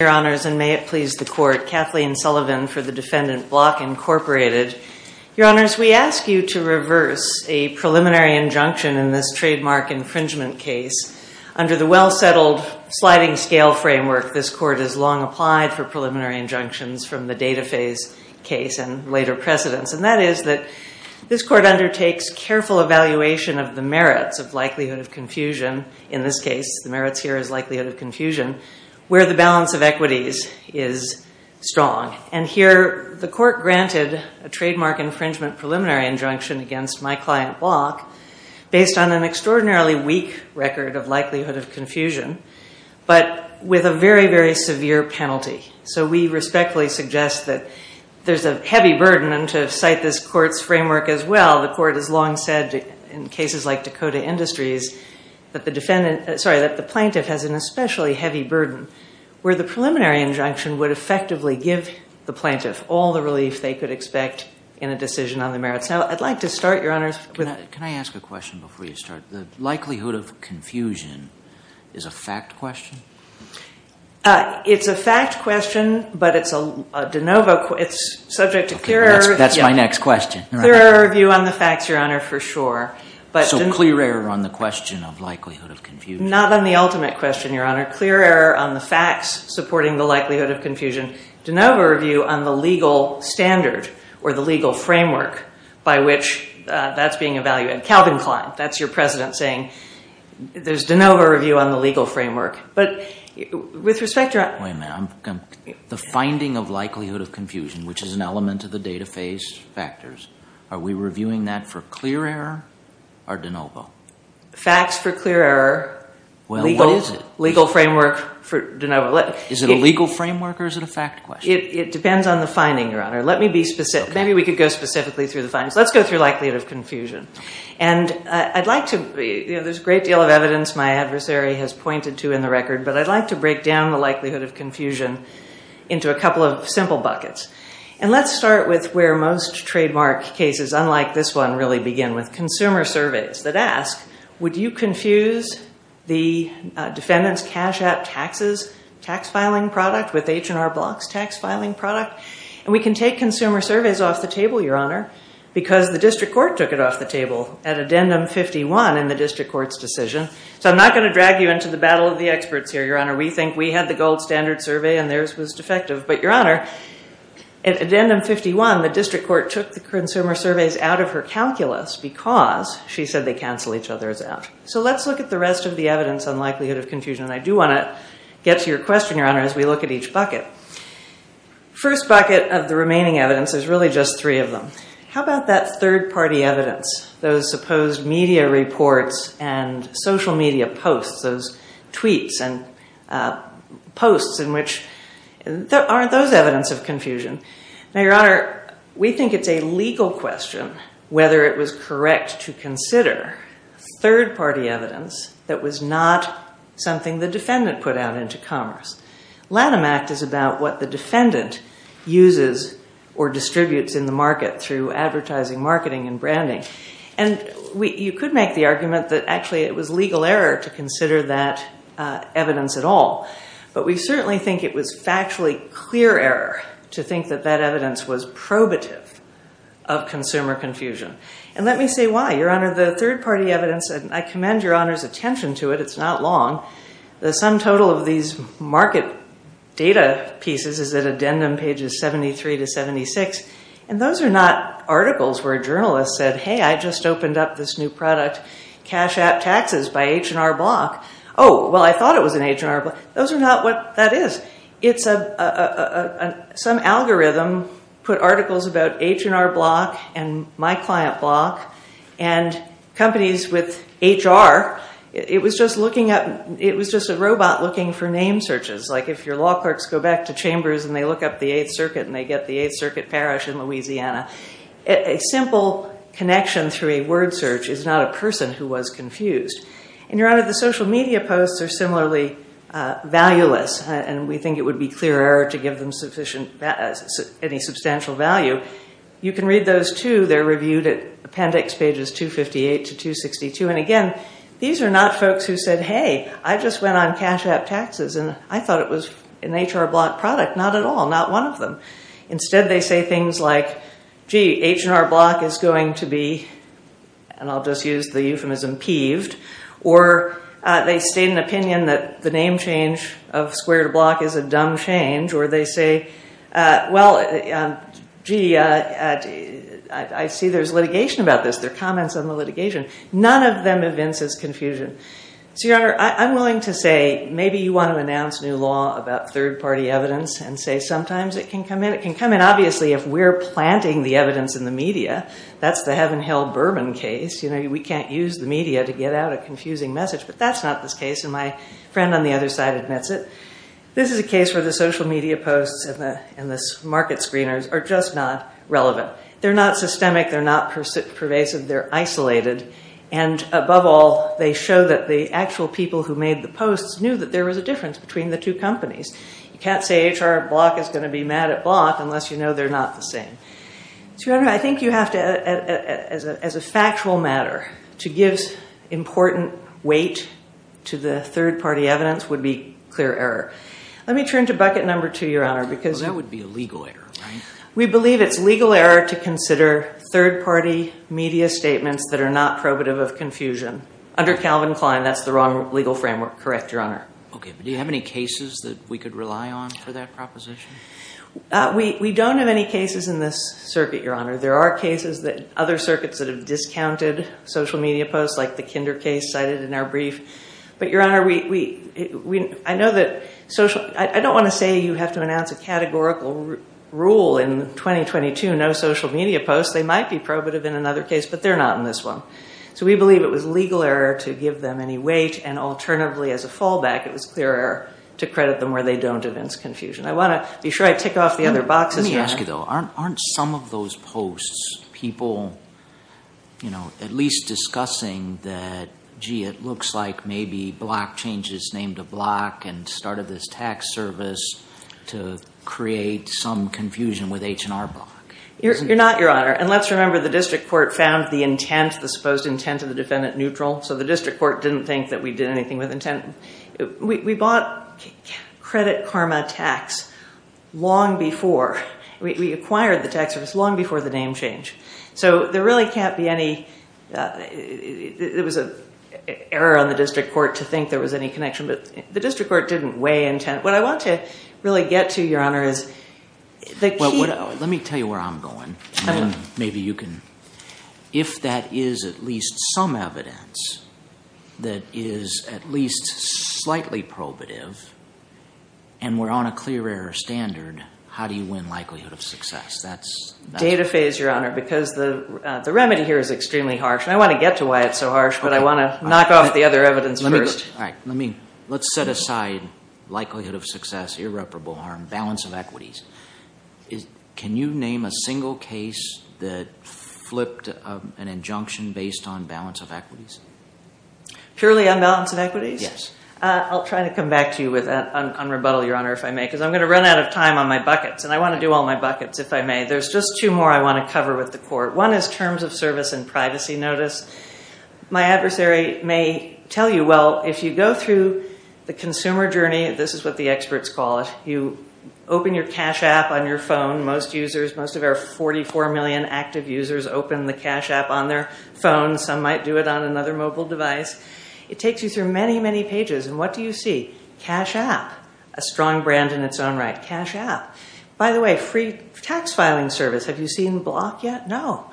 Your Honors, and may it please the Court, Kathleen Sullivan for the defendant, Block, Inc. Your Honors, we ask you to reverse a preliminary injunction in this trademark infringement case under the well-settled sliding scale framework this Court has long applied for preliminary injunctions from the data phase case and later precedents. And that is that this Court undertakes careful evaluation of the merits of likelihood of confusion, in this case, the merits here is likelihood of confusion, where the balance of equities is strong. And here, the Court granted a trademark infringement preliminary injunction against my client, Block, based on an extraordinarily weak record of likelihood of confusion, but with a very, very severe penalty. So we respectfully suggest that there's a heavy burden, and to cite this Court's framework as well, the Court has long said, in cases like Dakota Industries, that the defendant, sorry, that the plaintiff has an especially heavy burden, where the preliminary injunction would effectively give the plaintiff all the relief they could expect in a decision on the merits. Now, I'd like to start, Your Honors, with- Can I ask a question before you start? The likelihood of confusion is a fact question? It's a fact question, but it's a de novo, it's subject to clearer- That's my next question. Clearer view on the facts, Your Honor, for sure, but- So clearer on the question of likelihood of confusion. Not on the ultimate question, Your Honor. Clearer on the facts supporting the likelihood of confusion. De novo review on the legal standard, or the legal framework, by which that's being evaluated. Calvin Klein, that's your president, saying there's de novo review on the legal framework. But with respect to- Wait a minute, I'm, the finding of likelihood of confusion, which is an element of the data phase factors, are we reviewing that for clear error, or de novo? Facts for clear error. Well, what is it? Legal framework for de novo. Is it a legal framework, or is it a fact question? It depends on the finding, Your Honor. Let me be specific. Maybe we could go specifically through the findings. Let's go through likelihood of confusion. And I'd like to, there's a great deal of evidence my adversary has pointed to in the record, but I'd like to break down the likelihood of confusion into a couple of simple buckets. And let's start with where most trademark cases, unlike this one, really begin, with consumer surveys that ask, would you confuse the defendant's cash app taxes tax filing product with H&R Block's tax filing product? And we can take consumer surveys off the table, Your Honor, because the district court took it off the table at addendum 51 in the district court's decision. So I'm not gonna drag you into the battle of the experts here, Your Honor. We think we had the gold standard survey and theirs was defective. But Your Honor, at addendum 51, the district court took the consumer surveys out of her calculus because she said they cancel each other's out. So let's look at the rest of the evidence on likelihood of confusion. And I do wanna get to your question, Your Honor, as we look at each bucket. First bucket of the remaining evidence is really just three of them. How about that third party evidence, those supposed media reports and social media posts, those tweets and posts in which, aren't those evidence of confusion? Now, Your Honor, we think it's a legal question whether it was correct to consider third party evidence that was not something the defendant put out into commerce. Lanham Act is about what the defendant uses or distributes in the market through advertising, marketing and branding. And you could make the argument that actually it was legal error to consider that evidence at all. But we certainly think it was factually clear error to think that that evidence was probative of consumer confusion. And let me say why, Your Honor, the third party evidence, I commend Your Honor's attention to it, it's not long. The sum total of these market data pieces is at addendum pages 73 to 76. And those are not articles where a journalist said, hey, I just opened up this new product, cash app taxes by H&R Block. Oh, well, I thought it was an H&R Block. Those are not what that is. It's some algorithm put articles about H&R Block and My Client Block and companies with HR. It was just a robot looking for name searches. Like if your law clerks go back to Chambers and they look up the Eighth Circuit and they get the Eighth Circuit Parish in Louisiana. A simple connection through a word search is not a person who was confused. And Your Honor, the social media posts are similarly valueless. And we think it would be clear error to give them any substantial value. You can read those too. They're reviewed at appendix pages 258 to 262. And again, these are not folks who said, hey, I just went on cash app taxes and I thought it was an H&R Block product. Not at all, not one of them. Instead, they say things like, gee, H&R Block is going to be, and I'll just use the euphemism, peeved. Or they state an opinion that the name change of Square to Block is a dumb change. Or they say, well, gee, I see there's litigation about this. There are comments on the litigation. None of them evinces confusion. So Your Honor, I'm willing to say maybe you want to announce new law about third party evidence and say sometimes it can come in. It can come in, obviously, if we're planting the evidence in the media. That's the heaven, hell, bourbon case. We can't use the media to get out a confusing message. But that's not this case. And my friend on the other side admits it. This is a case where the social media posts and the market screeners are just not relevant. They're not systemic, they're not pervasive, they're isolated. And above all, they show that the actual people who made the posts knew that there was a difference between the two companies. You can't say H&R Block is gonna be mad at Block unless you know they're not the same. So Your Honor, I think you have to, as a factual matter, to give important weight to the third party evidence would be clear error. Let me turn to bucket number two, Your Honor, because- Well, that would be a legal error, right? We believe it's legal error to consider third party media statements that are not probative of confusion. Under Calvin Klein, that's the wrong legal framework. Correct, Your Honor. Okay, but do you have any cases that we could rely on for that proposition? We don't have any cases in this circuit, Your Honor. There are cases that other circuits that have discounted social media posts, like the Kinder case cited in our brief. But Your Honor, I know that social, I don't wanna say you have to announce a categorical rule in 2022, no social media posts. They might be probative in another case, but they're not in this one. So we believe it was legal error to give them any weight, and alternatively, as a fallback, it was clear error to credit them where they don't evince confusion. I wanna be sure I tick off the other boxes. Let me ask you, though, aren't some of those posts people at least discussing that, gee, it looks like maybe Block changed his name to Block and started this tax service to create some confusion with H&R Block? You're not, Your Honor. And let's remember the district court found the intent, the supposed intent of the defendant neutral, so the district court didn't think that we did anything with intent. We bought Credit Karma Tax long before, we acquired the tax service long before the name change. So there really can't be any, there was an error on the district court to think there was any connection, but the district court didn't weigh intent. What I want to really get to, Your Honor, is the key. Let me tell you where I'm going, and then maybe you can, if that is at least some evidence that is at least slightly probative, and we're on a clear error standard, how do you win likelihood of success? That's- Data phase, Your Honor, because the remedy here is extremely harsh, and I want to get to why it's so harsh, but I want to knock off the other evidence first. All right, let's set aside likelihood of success, irreparable harm, balance of equities. Can you name a single case that flipped an injunction based on balance of equities? Purely on balance of equities? Yes. I'll try to come back to you on rebuttal, Your Honor, if I may, because I'm going to run out of time on my buckets, and I want to do all my buckets, if I may. There's just two more I want to cover with the court. One is terms of service and privacy notice. My adversary may tell you, well, if you go through the consumer journey, this is what the experts call it, you open your cash app on your phone. Most users, most of our 44 million active users open the cash app on their phone. Some might do it on another mobile device. It takes you through many, many pages, and what do you see? Cash app, a strong brand in its own right. Cash app. By the way, free tax filing service. Have you seen Block yet? No.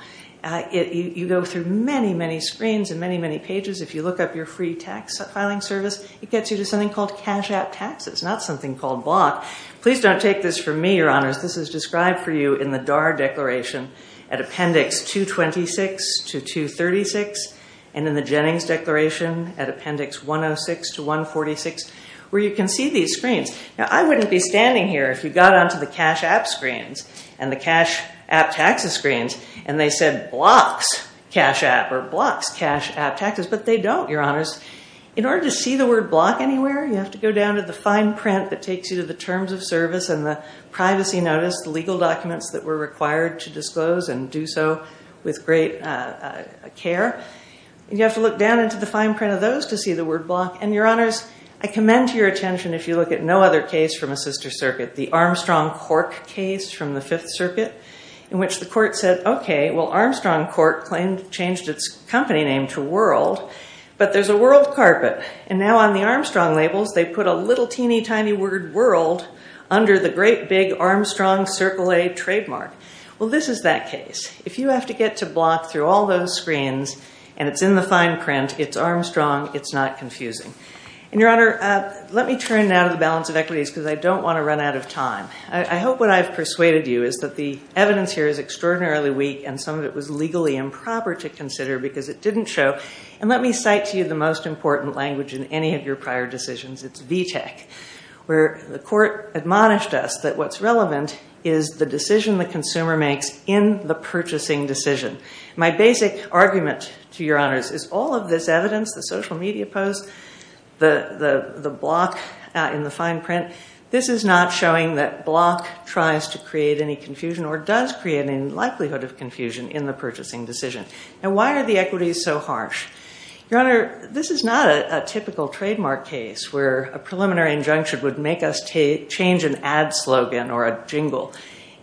You go through many, many screens and many, many pages. If you look up your free tax filing service, it gets you to something called Cash App Taxes, not something called Block. Please don't take this from me, Your Honors. This is described for you in the D.A.R. Declaration at Appendix 226 to 236, and in the Jennings Declaration at Appendix 106 to 146, where you can see these screens. Now, I wouldn't be standing here if you got onto the Cash App screens and the Cash App Taxes screens, and they said, Blocks Cash App or Blocks Cash App Taxes, but they don't, Your Honors. In order to see the word Block anywhere, you have to go down to the fine print that takes you to the Terms of Service and the Privacy Notice, the legal documents that were required to disclose and do so with great care. You have to look down into the fine print of those to see the word Block, and Your Honors, I commend your attention if you look at no other case from a sister circuit, the Armstrong-Cork case from the Fifth Circuit, in which the court said, okay, well, Armstrong-Cork claimed, changed its company name to World, but there's a world carpet, and now on the Armstrong labels, they put a little teeny tiny word World under the great big Armstrong Circle A trademark. Well, this is that case. If you have to get to Block through all those screens, and it's in the fine print, it's Armstrong, it's not confusing. And Your Honor, let me turn now to the balance of equities because I don't want to run out of time. I hope what I've persuaded you is that the evidence here is extraordinarily weak, and some of it was legally improper to consider because it didn't show. And let me cite to you the most important language in any of your prior decisions, it's VTEC, where the court admonished us that what's relevant is the decision the consumer makes in the purchasing decision. My basic argument to Your Honors is all of this evidence, the social media posts, the Block in the fine print, this is not showing that Block tries to create any confusion or does create any likelihood of confusion in the purchasing decision. And why are the equities so harsh? Your Honor, this is not a typical trademark case where a preliminary injunction would make us change an ad slogan or a jingle.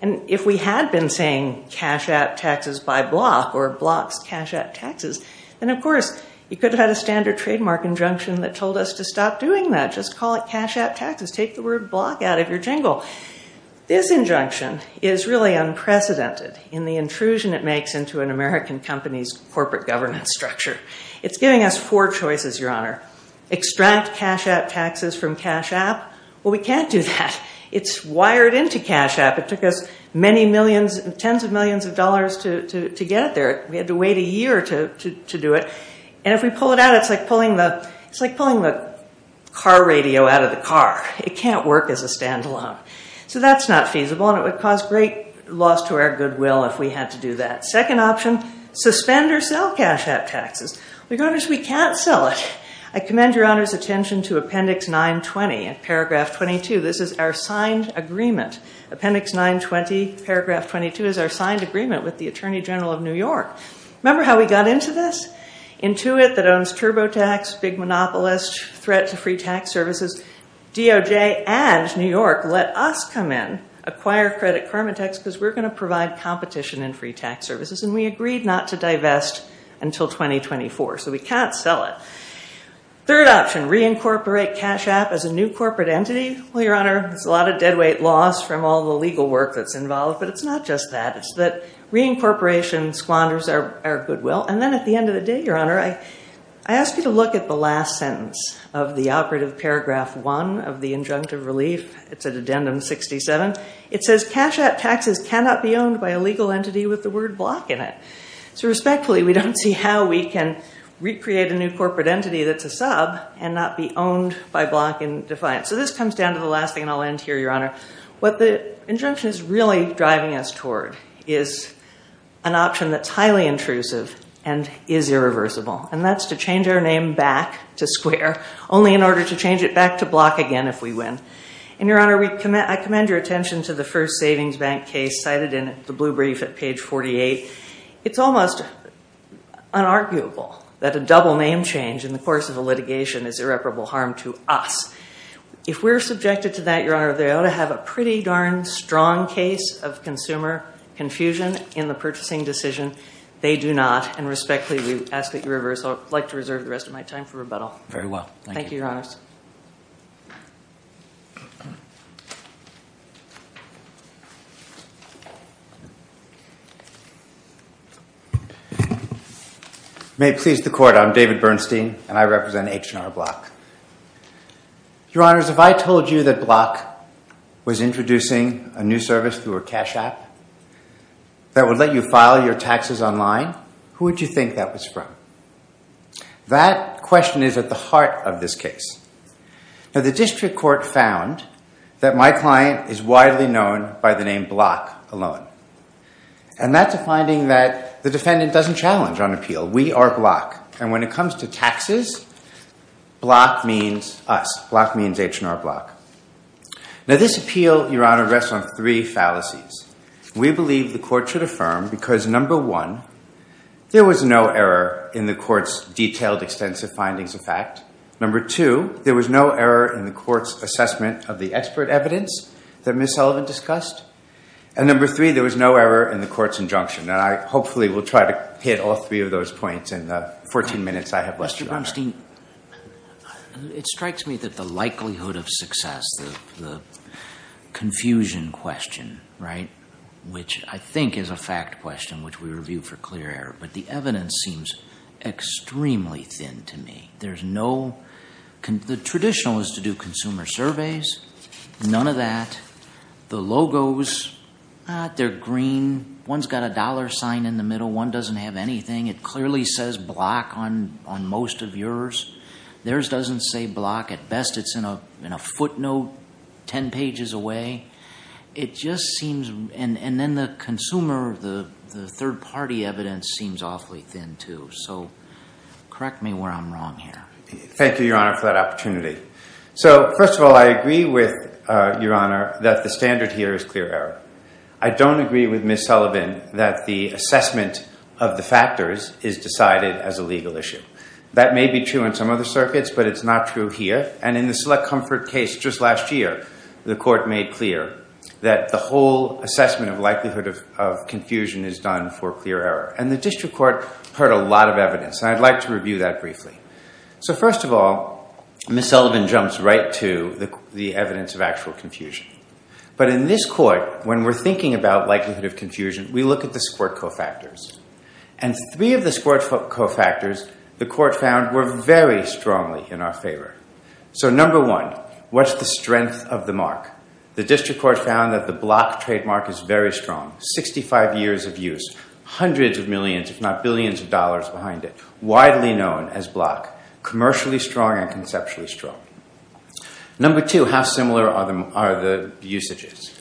And if we had been saying cash out taxes by Block or Block's cash out taxes, then of course you could have had a standard trademark injunction that told us to stop doing that, just call it cash out taxes, take the word Block out of your jingle. This injunction is really unprecedented in the intrusion it makes into an American company's corporate governance structure. It's giving us four choices, Your Honor. Extract cash out taxes from Cash App. Well, we can't do that. It's wired into Cash App. It took us many millions, tens of millions of dollars to get it there. We had to wait a year to do it. And if we pull it out, it's like pulling the car radio out of the car. It can't work as a standalone. So that's not feasible, and it would cause great loss to our goodwill if we had to do that. Second option, suspend or sell Cash App taxes. Your Honor, we can't sell it. I commend Your Honor's attention to Appendix 920 and Paragraph 22. This is our signed agreement. Appendix 920, Paragraph 22 is our signed agreement with the Attorney General of New York. Remember how we got into this? Intuit that owns TurboTax, Big Monopolist, threat to free tax services, DOJ and New York let us come in, acquire Credit Karmatex, because we're going to provide competition in free tax services, and we agreed not to divest until 2024. So we can't sell it. Third option, reincorporate Cash App as a new corporate entity. Well, Your Honor, there's a lot of deadweight loss from all the legal work that's involved, but it's not just that. Reincorporation squanders our goodwill. And then at the end of the day, Your Honor, I ask you to look at the last sentence of the operative Paragraph 1 of the Injunctive Relief. It's at Addendum 67. It says Cash App taxes cannot be owned by a legal entity with the word block in it. So respectfully, we don't see how we can recreate a new corporate entity that's a sub and not be owned by block and defiant. So this comes down to the last thing, and I'll end here, Your Honor. What the injunction is really driving us toward is an option that's highly intrusive and is irreversible. And that's to change our name back to square, only in order to change it back to block again if we win. And Your Honor, I commend your attention to the first savings bank case cited in the blue brief at page 48. It's almost unarguable that a double name change in the course of a litigation is irreparable harm to us. If we're subjected to that, Your Honor, they ought to have a pretty darn strong case of consumer confusion in the purchasing decision. They do not. And respectfully, we ask that you reverse. I'd like to reserve the rest of my time for rebuttal. Very well. Thank you, Your Honors. May it please the Court, I'm David Bernstein, and I represent H&R Block. Your Honors, if I told you that Block was introducing a new service through a cash app that would let you file your taxes online, who would you think that was from? That question is at the heart of this case. Now, the district court found that my client is widely known by the name Block alone. And that's a finding that the defendant doesn't challenge on appeal. We are Block. And when it comes to taxes, Block means us. Block means H&R Block. Now, this appeal, Your Honor, rests on three fallacies. We believe the court should affirm because number one, there was no error in the court's detailed extensive findings of fact. Number two, there was no error in the court's assessment of the expert evidence that Ms. Sullivan discussed. And number three, there was no error in the court's injunction. And I hopefully will try to hit all three of those points in the 14 minutes I have left, Your Honor. Mr. Grimstein, it strikes me that the likelihood of success, the confusion question, which I think is a fact question which we reviewed for clear error, but the evidence seems extremely thin to me. There's no, the traditional is to do consumer surveys. None of that. The logos, they're green. One's got a dollar sign in the middle. One doesn't have anything. It clearly says block on most of yours. Theirs doesn't say block. At best, it's in a footnote 10 pages away. It just seems, and then the consumer, the third party evidence seems awfully thin too. So correct me where I'm wrong here. Thank you, Your Honor, for that opportunity. So first of all, I agree with Your Honor that the standard here is clear error. I don't agree with Ms. Sullivan that the assessment of the factors is decided as a legal issue. That may be true in some other circuits, but it's not true here. And in the Select Comfort case just last year, the court made clear that the whole assessment of likelihood of confusion is done for clear error. And the district court heard a lot of evidence, and I'd like to review that briefly. So first of all, Ms. Sullivan jumps right to the evidence of actual confusion. But in this court, when we're thinking about likelihood of confusion, we look at the squirt co-factors. And three of the squirt co-factors, the court found, were very strongly in our favor. So number one, what's the strength of the mark? The district court found that the block trademark is very strong. 65 years of use, hundreds of millions, if not billions of dollars behind it. Widely known as block. Commercially strong and conceptually strong. Number two, how similar are the usages?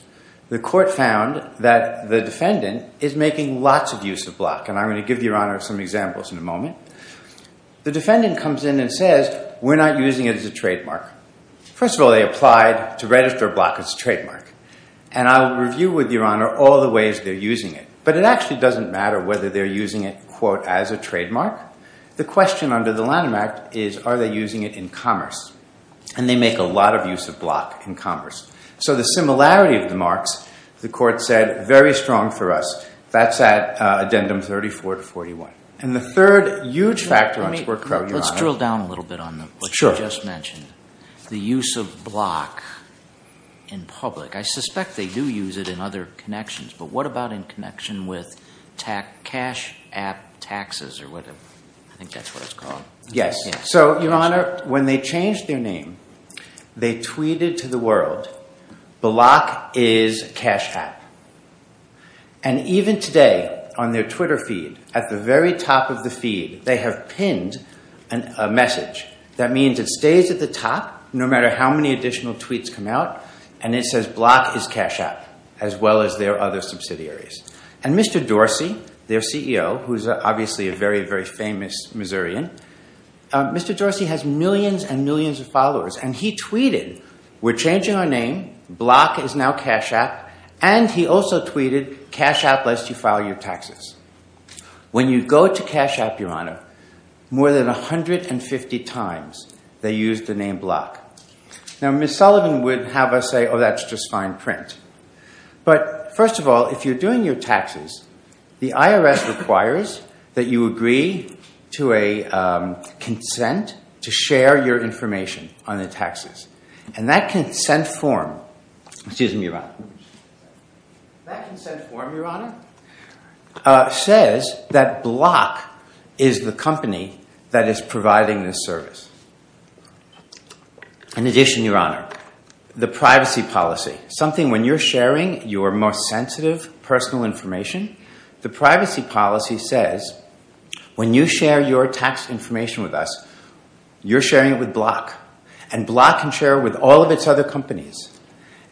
The court found that the defendant is making lots of use of block. And I'm going to give Your Honor some examples in a moment. The defendant comes in and says, we're not using it as a trademark. First of all, they applied to register block as a trademark. And I'll review with Your Honor all the ways they're using it. But it actually doesn't matter whether they're using it, quote, as a trademark. The question under the Lanham Act is, are they using it in commerce? And they make a lot of use of block in commerce. So the similarity of the marks, the court said, very strong for us. That's at addendum 34 to 41. And the third huge factor on sport code, Your Honor. Let's drill down a little bit on what you just mentioned. The use of block in public. I suspect they do use it in other connections. But what about in connection with cash app taxes or whatever? I think that's what it's called. Yes. So Your Honor, when they changed their name, they tweeted to the world, block is cash app. And even today, on their Twitter feed, at the very top of the feed, they have pinned a message. That means it stays at the top, no matter how many additional tweets come out. And it says, block is cash app, as well as their other subsidiaries. And Mr. Dorsey, their CEO, who is obviously a very, very famous Missourian, Mr. Dorsey has millions and millions of followers. And he tweeted, we're changing our name. Block is now cash app. And he also tweeted, cash app lets you file your taxes. When you go to cash app, Your Honor, more than 150 times they use the name block. Now Miss Sullivan would have us say, oh, that's just fine print. But first of all, if you're doing your taxes, the IRS requires that you agree to a consent to share your information on the taxes. And that consent form says that Block is the company that is providing this service. In addition, Your Honor, the privacy policy, something when you're sharing your most sensitive personal information, the privacy policy says when you share your tax information with us, you're sharing it with Block. And Block can share with all of its other companies.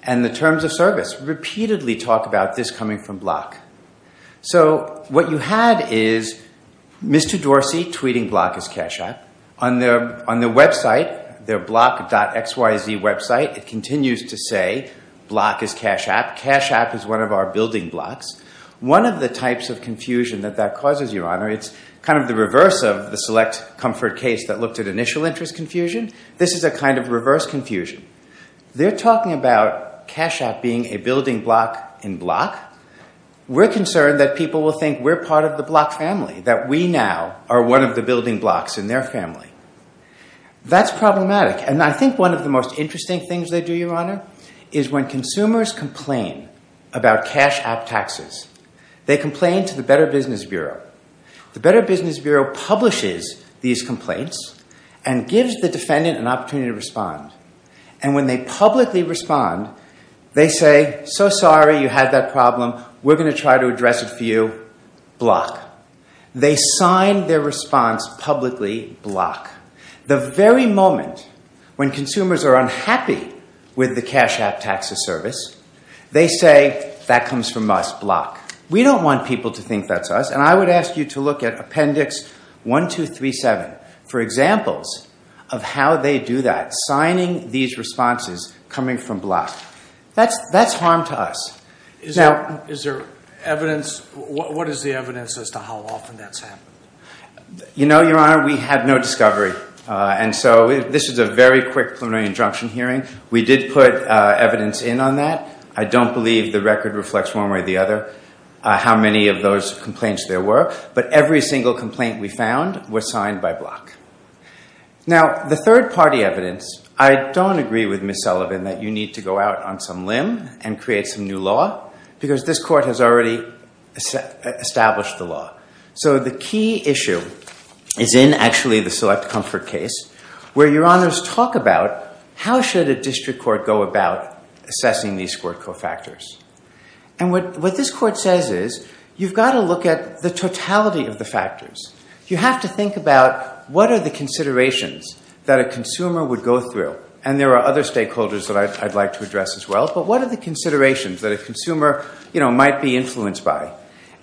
And the terms of service repeatedly talk about this coming from Block. So what you had is Mr. Dorsey tweeting block is cash app. On their website, their block.xyz website, it continues to say block is cash app. Cash app is one of our building blocks. One of the types of confusion that that causes, Your Honor, it's kind of the reverse of the select comfort case that looked at initial interest confusion. This is a kind of reverse confusion. They're talking about cash app being a building block in Block. We're concerned that people will think we're part of the Block family, that we now are one of the building blocks in their family. That's problematic. And I think one of the most interesting things they do, Your Honor, is when consumers complain about cash app taxes, they complain to the Better Business Bureau. The Better Business Bureau publishes these complaints and gives the defendant an opportunity to respond. And when they publicly respond, they say, so sorry. You had that problem. We're going to try to address it for you. Block. They sign their response publicly. Block. The very moment when consumers are unhappy with the cash app taxes service, they say, that comes from us. Block. We don't want people to think that's us. And I would ask you to look at Appendix 1, 2, 3, 7 for examples of how they do that, signing these responses coming from Block. That's harm to us. Is there evidence? What is the evidence as to how often that's happened? You know, Your Honor, we had no discovery. And so this is a very quick preliminary injunction hearing. We did put evidence in on that. I don't believe the record reflects one way or the other how many of those complaints there were. But every single complaint we found was signed by Block. Now, the third party evidence, I don't agree with Ms. Sullivan that you need to go out on some limb and create some new law, because this court has already established the law. So the key issue is in, actually, the Select Comfort case, where Your Honors talk about how should a district court go about assessing these court co-factors. And what this court says is, you've got to look at the totality of the factors. You have to think about, what are the considerations that a consumer would go through? And there are other stakeholders that I'd like to address as well. But what are the considerations that a consumer might be influenced by?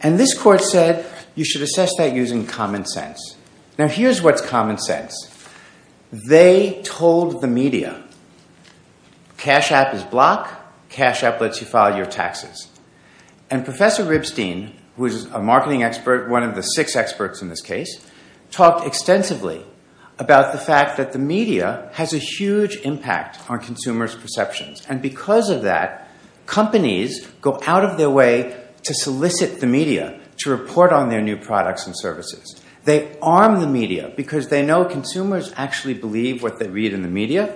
And this court said, you should assess that using common sense. Now, here's what's common sense. They told the media, cash app is Block. Cash app lets you file your taxes. And Professor Ribstein, who is a marketing expert, one of the six experts in this case, talked extensively about the fact that the media has a huge impact on consumers' perceptions. And because of that, companies go out of their way to solicit the media to report on their new products and services. They arm the media because they know consumers actually believe what they read in the media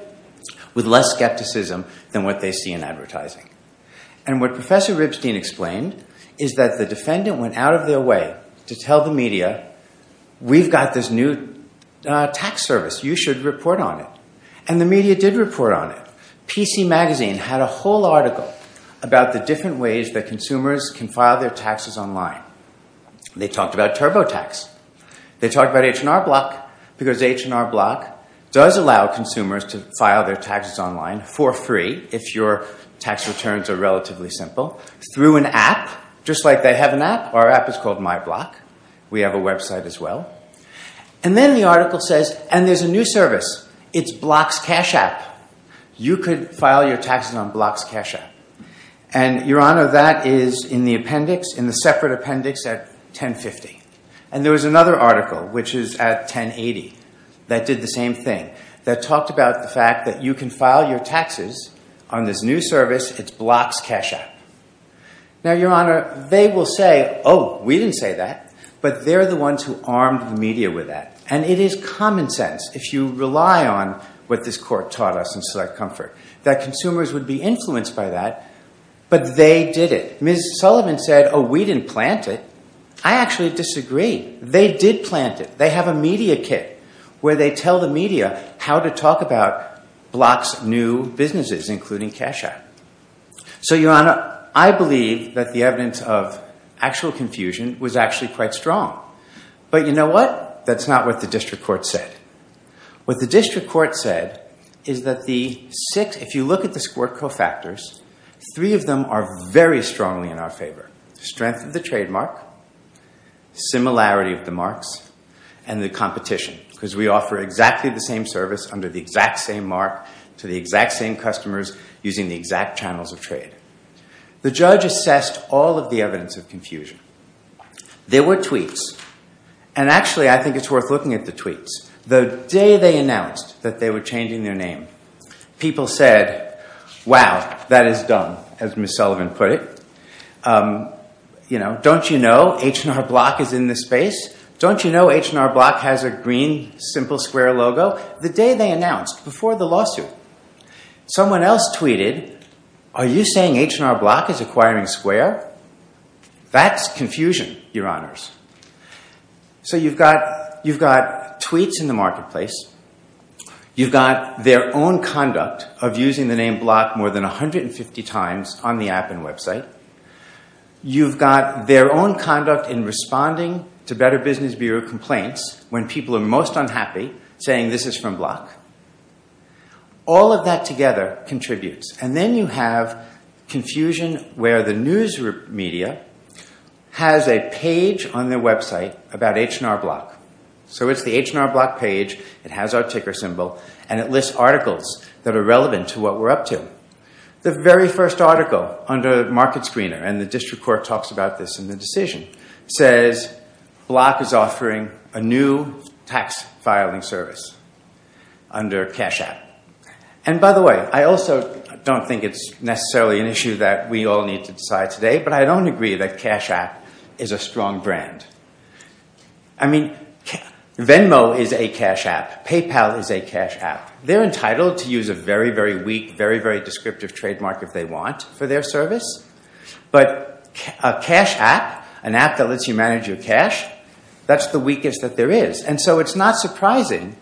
with less skepticism than what they see in advertising. And what Professor Ribstein explained is that the defendant went out of their way to tell the media, we've got this new tax service. You should report on it. And the media did report on it. PC Magazine had a whole article about the different ways that consumers can file their taxes online. They talked about TurboTax. They talked about H&R Block because H&R Block does allow consumers to file their taxes online for free if your tax returns are relatively simple through an app, just like they have an app. Our app is called MyBlock. We have a website as well. And then the article says, and there's a new service. It's Block's Cash App. You could file your taxes on Block's Cash App. And Your Honor, that is in the appendix, in the separate appendix at 1050. And there was another article, which is at 1080, that did the same thing, that talked about the fact that you can file your taxes on this new service. It's Block's Cash App. Now, Your Honor, they will say, oh, we didn't say that. But they're the ones who armed the media with that. And it is common sense, if you rely on what this court taught us in Select Comfort, that consumers would be influenced by that. But they did it. Ms. Sullivan said, oh, we didn't plant it. I actually disagree. They did plant it. They have a media kit, where they tell the media how to talk about Block's new businesses, including Cash App. So Your Honor, I believe that the evidence of actual confusion was actually quite strong. But you know what? That's not what the district court said. What the district court said is that the six, if you look at the squirt co-factors, three of them are very strongly in our favor. Strength of the trademark, similarity of the marks, and the competition. Because we offer exactly the same service under the exact same mark to the exact same customers using the exact channels of trade. The judge assessed all of the evidence of confusion. There were tweets. And actually, I think it's worth looking at the tweets. The day they announced that they were changing their name, people said, wow, that is dumb, as Ms. Sullivan put it. Don't you know H&R Block is in this space? Don't you know H&R Block has a green Simple Square logo? The day they announced, before the lawsuit, someone else tweeted, are you saying H&R Block is acquiring Square? That's confusion, Your Honors. So you've got tweets in the marketplace. You've got their own conduct of using the name Block more than 150 times on the app and website. You've got their own conduct in responding to Better Business Bureau complaints when people are most unhappy, saying this is from Block. All of that together contributes. And then you have confusion where the news media has a page on their website about H&R Block. So it's the H&R Block page. It has our ticker symbol. And it lists articles that are relevant to what we're up to. The very first article under Market Screener, and the district court talks about this in the decision, says Block is offering a new tax filing service under Cash App. And by the way, I also don't think it's necessarily an issue that we all need to decide today. But I don't agree that Cash App is a strong brand. I mean, Venmo is a Cash App. PayPal is a Cash App. They're entitled to use a very, very weak, very, very descriptive trademark if they want for their service. But a Cash App, an app that lets you manage your cash, that's the weakest that there is. And so it's not surprising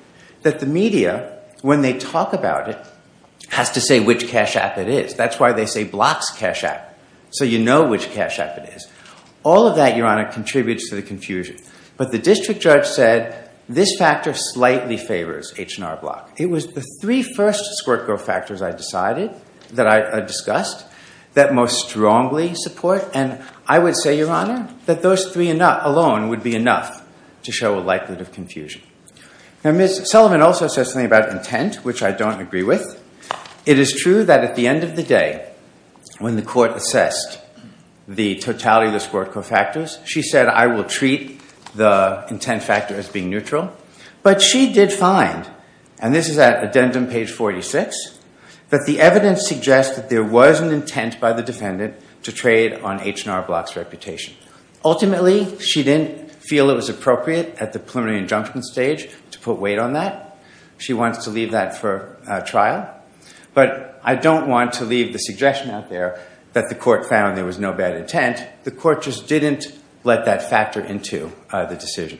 that the media, when they talk about it, has to say which Cash App it is. That's why they say Block's Cash App, so you know which Cash App it is. All of that, Your Honor, contributes to the confusion. But the district judge said, this factor slightly favors H&R Block. It was the three first squirt-go factors I decided, that I discussed, that most strongly support. And I would say, Your Honor, that those three alone would be enough to show a likelihood of confusion. Now, Ms. Sullivan also says something about intent, which I don't agree with. It is true that at the end of the day, when the court assessed the totality of the squirt-go factors, she said, I will treat the intent factor as being neutral. But she did find, and this is at addendum page 46, that the evidence suggests that there was an intent by the defendant to trade on H&R Block's reputation. Ultimately, she didn't feel it was appropriate at the preliminary injunction stage to put weight on that. She wants to leave that for trial. But I don't want to leave the suggestion out there that the court found there was no bad intent. The court just didn't let that factor into the decision.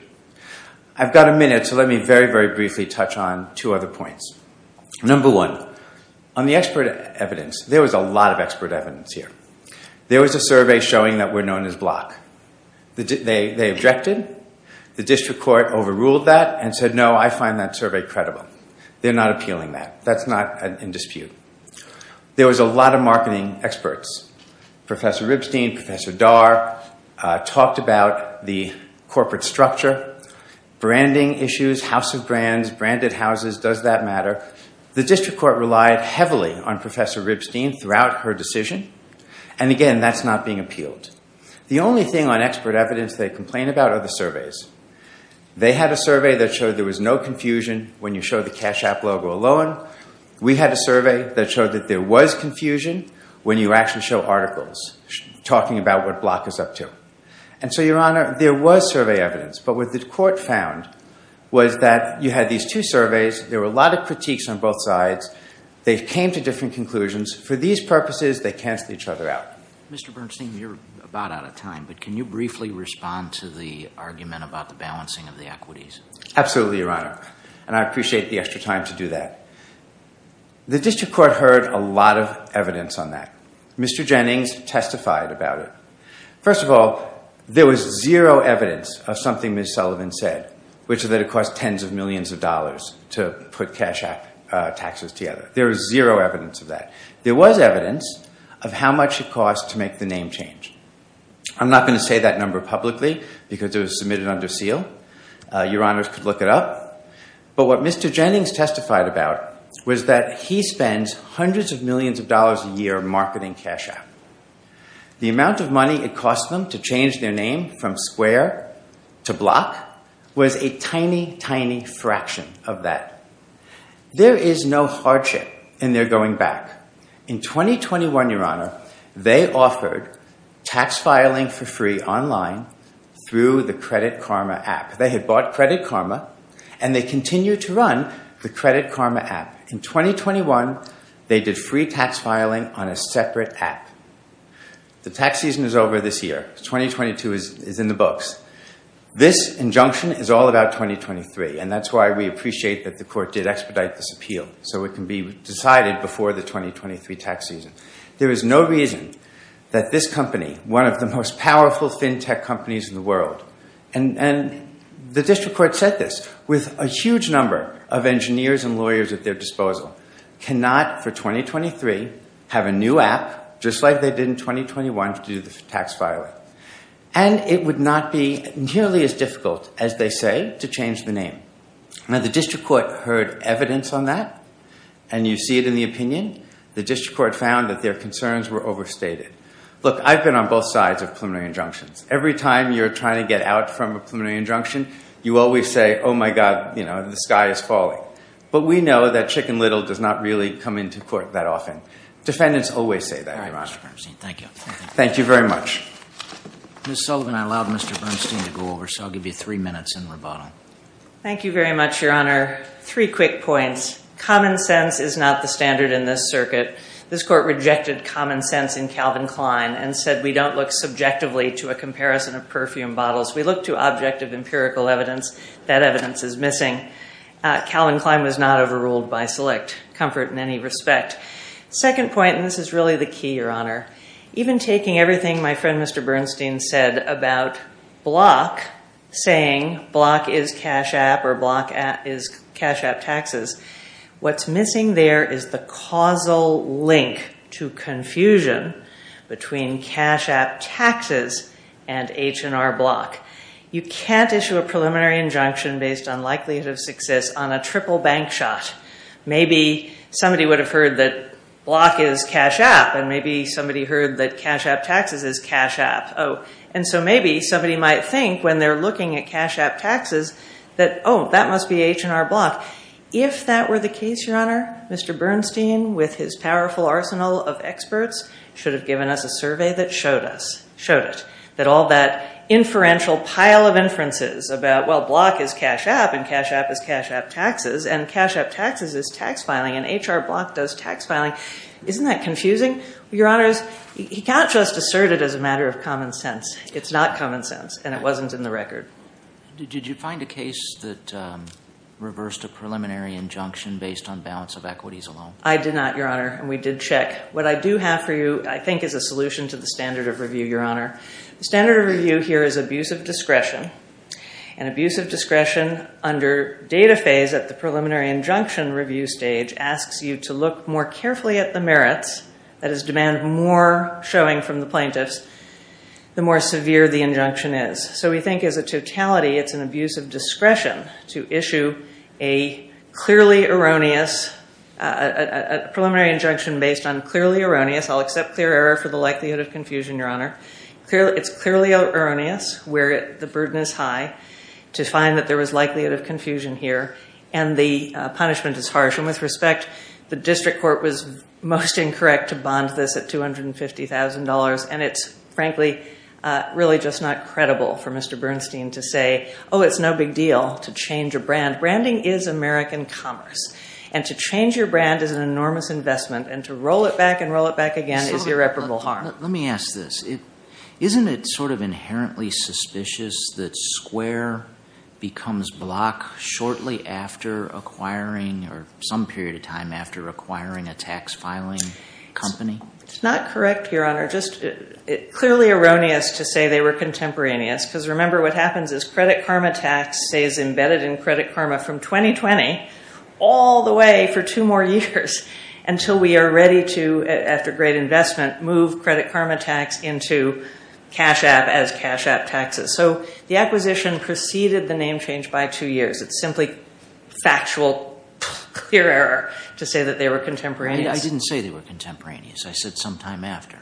I've got a minute, so let me very, very briefly touch on two other points. Number one, on the expert evidence, there was a lot of expert evidence here. There was a survey showing that we're known as Block. They objected. The district court overruled that and said, no, I find that survey credible. They're not appealing that. That's not in dispute. There was a lot of marketing experts. Professor Ribstein, Professor Darr talked about the corporate structure, branding issues, house of brands, branded houses, does that matter? The district court relied heavily on Professor Ribstein throughout her decision. And again, that's not being appealed. The only thing on expert evidence they complain about are the surveys. They had a survey that showed there was no confusion when you showed the Cash App logo alone. We had a survey that showed that there was confusion when you actually show articles talking about what Block is up to. And so, Your Honor, there was survey evidence. But what the court found was that you had these two surveys. There were a lot of critiques on both sides. They came to different conclusions. For these purposes, they canceled each other out. Mr. Bernstein, you're about out of time. But can you briefly respond to the argument about the balancing of the equities? Absolutely, Your Honor. And I appreciate the extra time to do that. The district court heard a lot of evidence on that. Mr. Jennings testified about it. First of all, there was zero evidence of something Ms. Sullivan said, which is that it cost tens of millions of dollars to put Cash App taxes together. There was zero evidence of that. There was evidence of how much it cost to make the name change. I'm not going to say that number publicly, because it was submitted under seal. Your Honors could look it up. But what Mr. Jennings testified about was that he spends hundreds of millions of dollars a year marketing Cash App. The amount of money it costs them to change their name from square to block was a tiny, tiny fraction of that. There is no hardship in their going back. In 2021, Your Honor, they offered tax filing for free online through the Credit Karma app. They had bought Credit Karma. And they continued to run the Credit Karma app. In 2021, they did free tax filing on a separate app. The tax season is over this year. 2022 is in the books. This injunction is all about 2023. And that's why we appreciate that the court did expedite this appeal so it can be decided before the 2023 tax season. There is no reason that this company, one of the most powerful fintech companies in the world, and the district court said this, with a huge number of engineers and lawyers at their disposal, cannot, for 2023, have a new app, just like they did in 2021, to do the tax filing. And it would not be nearly as difficult, as they say, to change the name. Now, the district court heard evidence on that. And you see it in the opinion. The district court found that their concerns were overstated. Look, I've been on both sides of preliminary injunctions. Every time you're trying to get out from a preliminary injunction, you always say, oh, my god, the sky is falling. But we know that Chicken Little does not really come into court that often. Defendants always say that, Your Honor. All right, Mr. Bernstein. Thank you. Thank you very much. Ms. Sullivan, I allowed Mr. Bernstein to go over. So I'll give you three minutes in rebuttal. Thank you very much, Your Honor. Three quick points. Common sense is not the standard in this circuit. This court rejected common sense in Calvin Klein and said we don't look subjectively to a comparison of perfume bottles. We look to objective empirical evidence. That evidence is missing. Calvin Klein was not overruled by select comfort in any respect. Second point, and this is really the key, Your Honor. Even taking everything my friend Mr. Bernstein said about Block saying Block is cash app or Block is cash app taxes. What's missing there is the causal link to confusion between cash app taxes and H&R Block. You can't issue a preliminary injunction based on likelihood of success on a triple bank shot. Maybe somebody would have heard that Block is cash app. And maybe somebody heard that cash app taxes is cash app. And so maybe somebody might think when they're looking at cash app taxes that, oh, that must be H&R Block. If that were the case, Your Honor, Mr. Bernstein with his powerful arsenal of experts should have given us a survey that showed it. That all that inferential pile of inferences about, well, Block is cash app, and cash app is cash app taxes, and cash app taxes is tax filing, and H&R Block does tax filing. Isn't that confusing? Your Honors, he can't just assert it as a matter of common sense. It's not common sense. And it wasn't in the record. Did you find a case that reversed a preliminary injunction based on balance of equities alone? I did not, Your Honor. And we did check. What I do have for you, I think, is a solution to the standard of review, Your Honor. The standard of review here is abuse of discretion. And abuse of discretion under data phase at the preliminary injunction review stage asks you to look more carefully at the merits. That is, demand more showing from the plaintiffs the more severe the injunction is. So we think, as a totality, it's an abuse of discretion to issue a clearly erroneous preliminary injunction based on clearly erroneous. I'll accept clear error for the likelihood of confusion, Your Honor. It's clearly erroneous, where the burden is high, to find that there was likelihood of confusion here. And the punishment is harsh. And with respect, the district court was most incorrect to bond this at $250,000. And it's, frankly, really just not credible for Mr. Bernstein to say, oh, it's no big deal to change a brand. Branding is American commerce. And to change your brand is an enormous investment. And to roll it back and roll it back again is irreparable harm. Let me ask this. Isn't it sort of inherently suspicious that Square becomes block shortly after acquiring, or some period of time after acquiring, a tax filing company? It's not correct, Your Honor. It's clearly erroneous to say they were contemporaneous. Because remember, what happens is credit karma tax stays embedded in credit karma from 2020 all the way for two more years until we are ready to, after great investment, move credit karma tax into cash app as cash app taxes. So the acquisition preceded the name change by two years. It's simply factual clear error to say that they were contemporaneous. I didn't say they were contemporaneous. I said sometime after.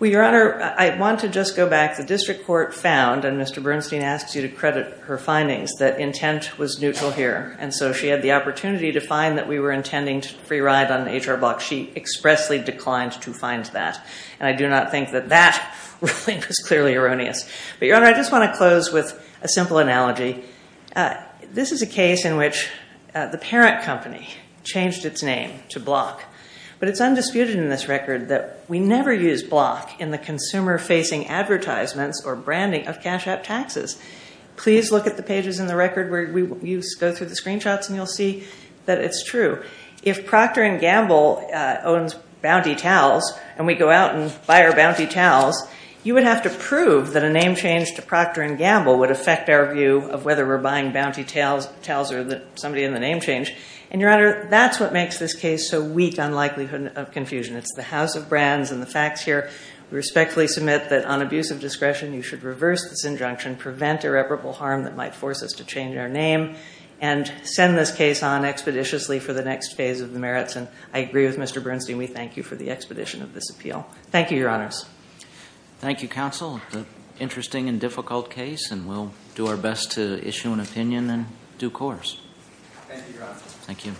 Well, Your Honor, I want to just go back. The district court found, and Mr. Bernstein asks you to credit her findings, that intent was neutral here. And so she had the opportunity to find that we were intending to free ride on the HR block. She expressly declined to find that. And I do not think that that ruling was clearly erroneous. But Your Honor, I just want to close with a simple analogy. This is a case in which the parent company changed its name to Block. But it's undisputed in this record that we never use Block in the consumer-facing advertisements or branding of cash app taxes. Please look at the pages in the record where you go through the screenshots and you'll see that it's true. If Procter & Gamble owns Bounty Towels and we go out and buy our Bounty Towels, you would have to prove that a name change to Procter & Gamble would affect our view of whether we're buying Bounty Towels or somebody in the name change. And Your Honor, that's what makes this case so weak on likelihood of confusion. It's the House of Brands and the facts here. We respectfully submit that on abuse of discretion, you should reverse this injunction, prevent irreparable harm that might force us to change our name, and send this case on expeditiously for the next phase of the merits. And I agree with Mr. Bernstein. We thank you for the expedition of this appeal. Thank you, Your Honors. Thank you, counsel. Interesting and difficult case, and we'll do our best to issue an opinion in due course. Thank you, Your Honor. Thank you.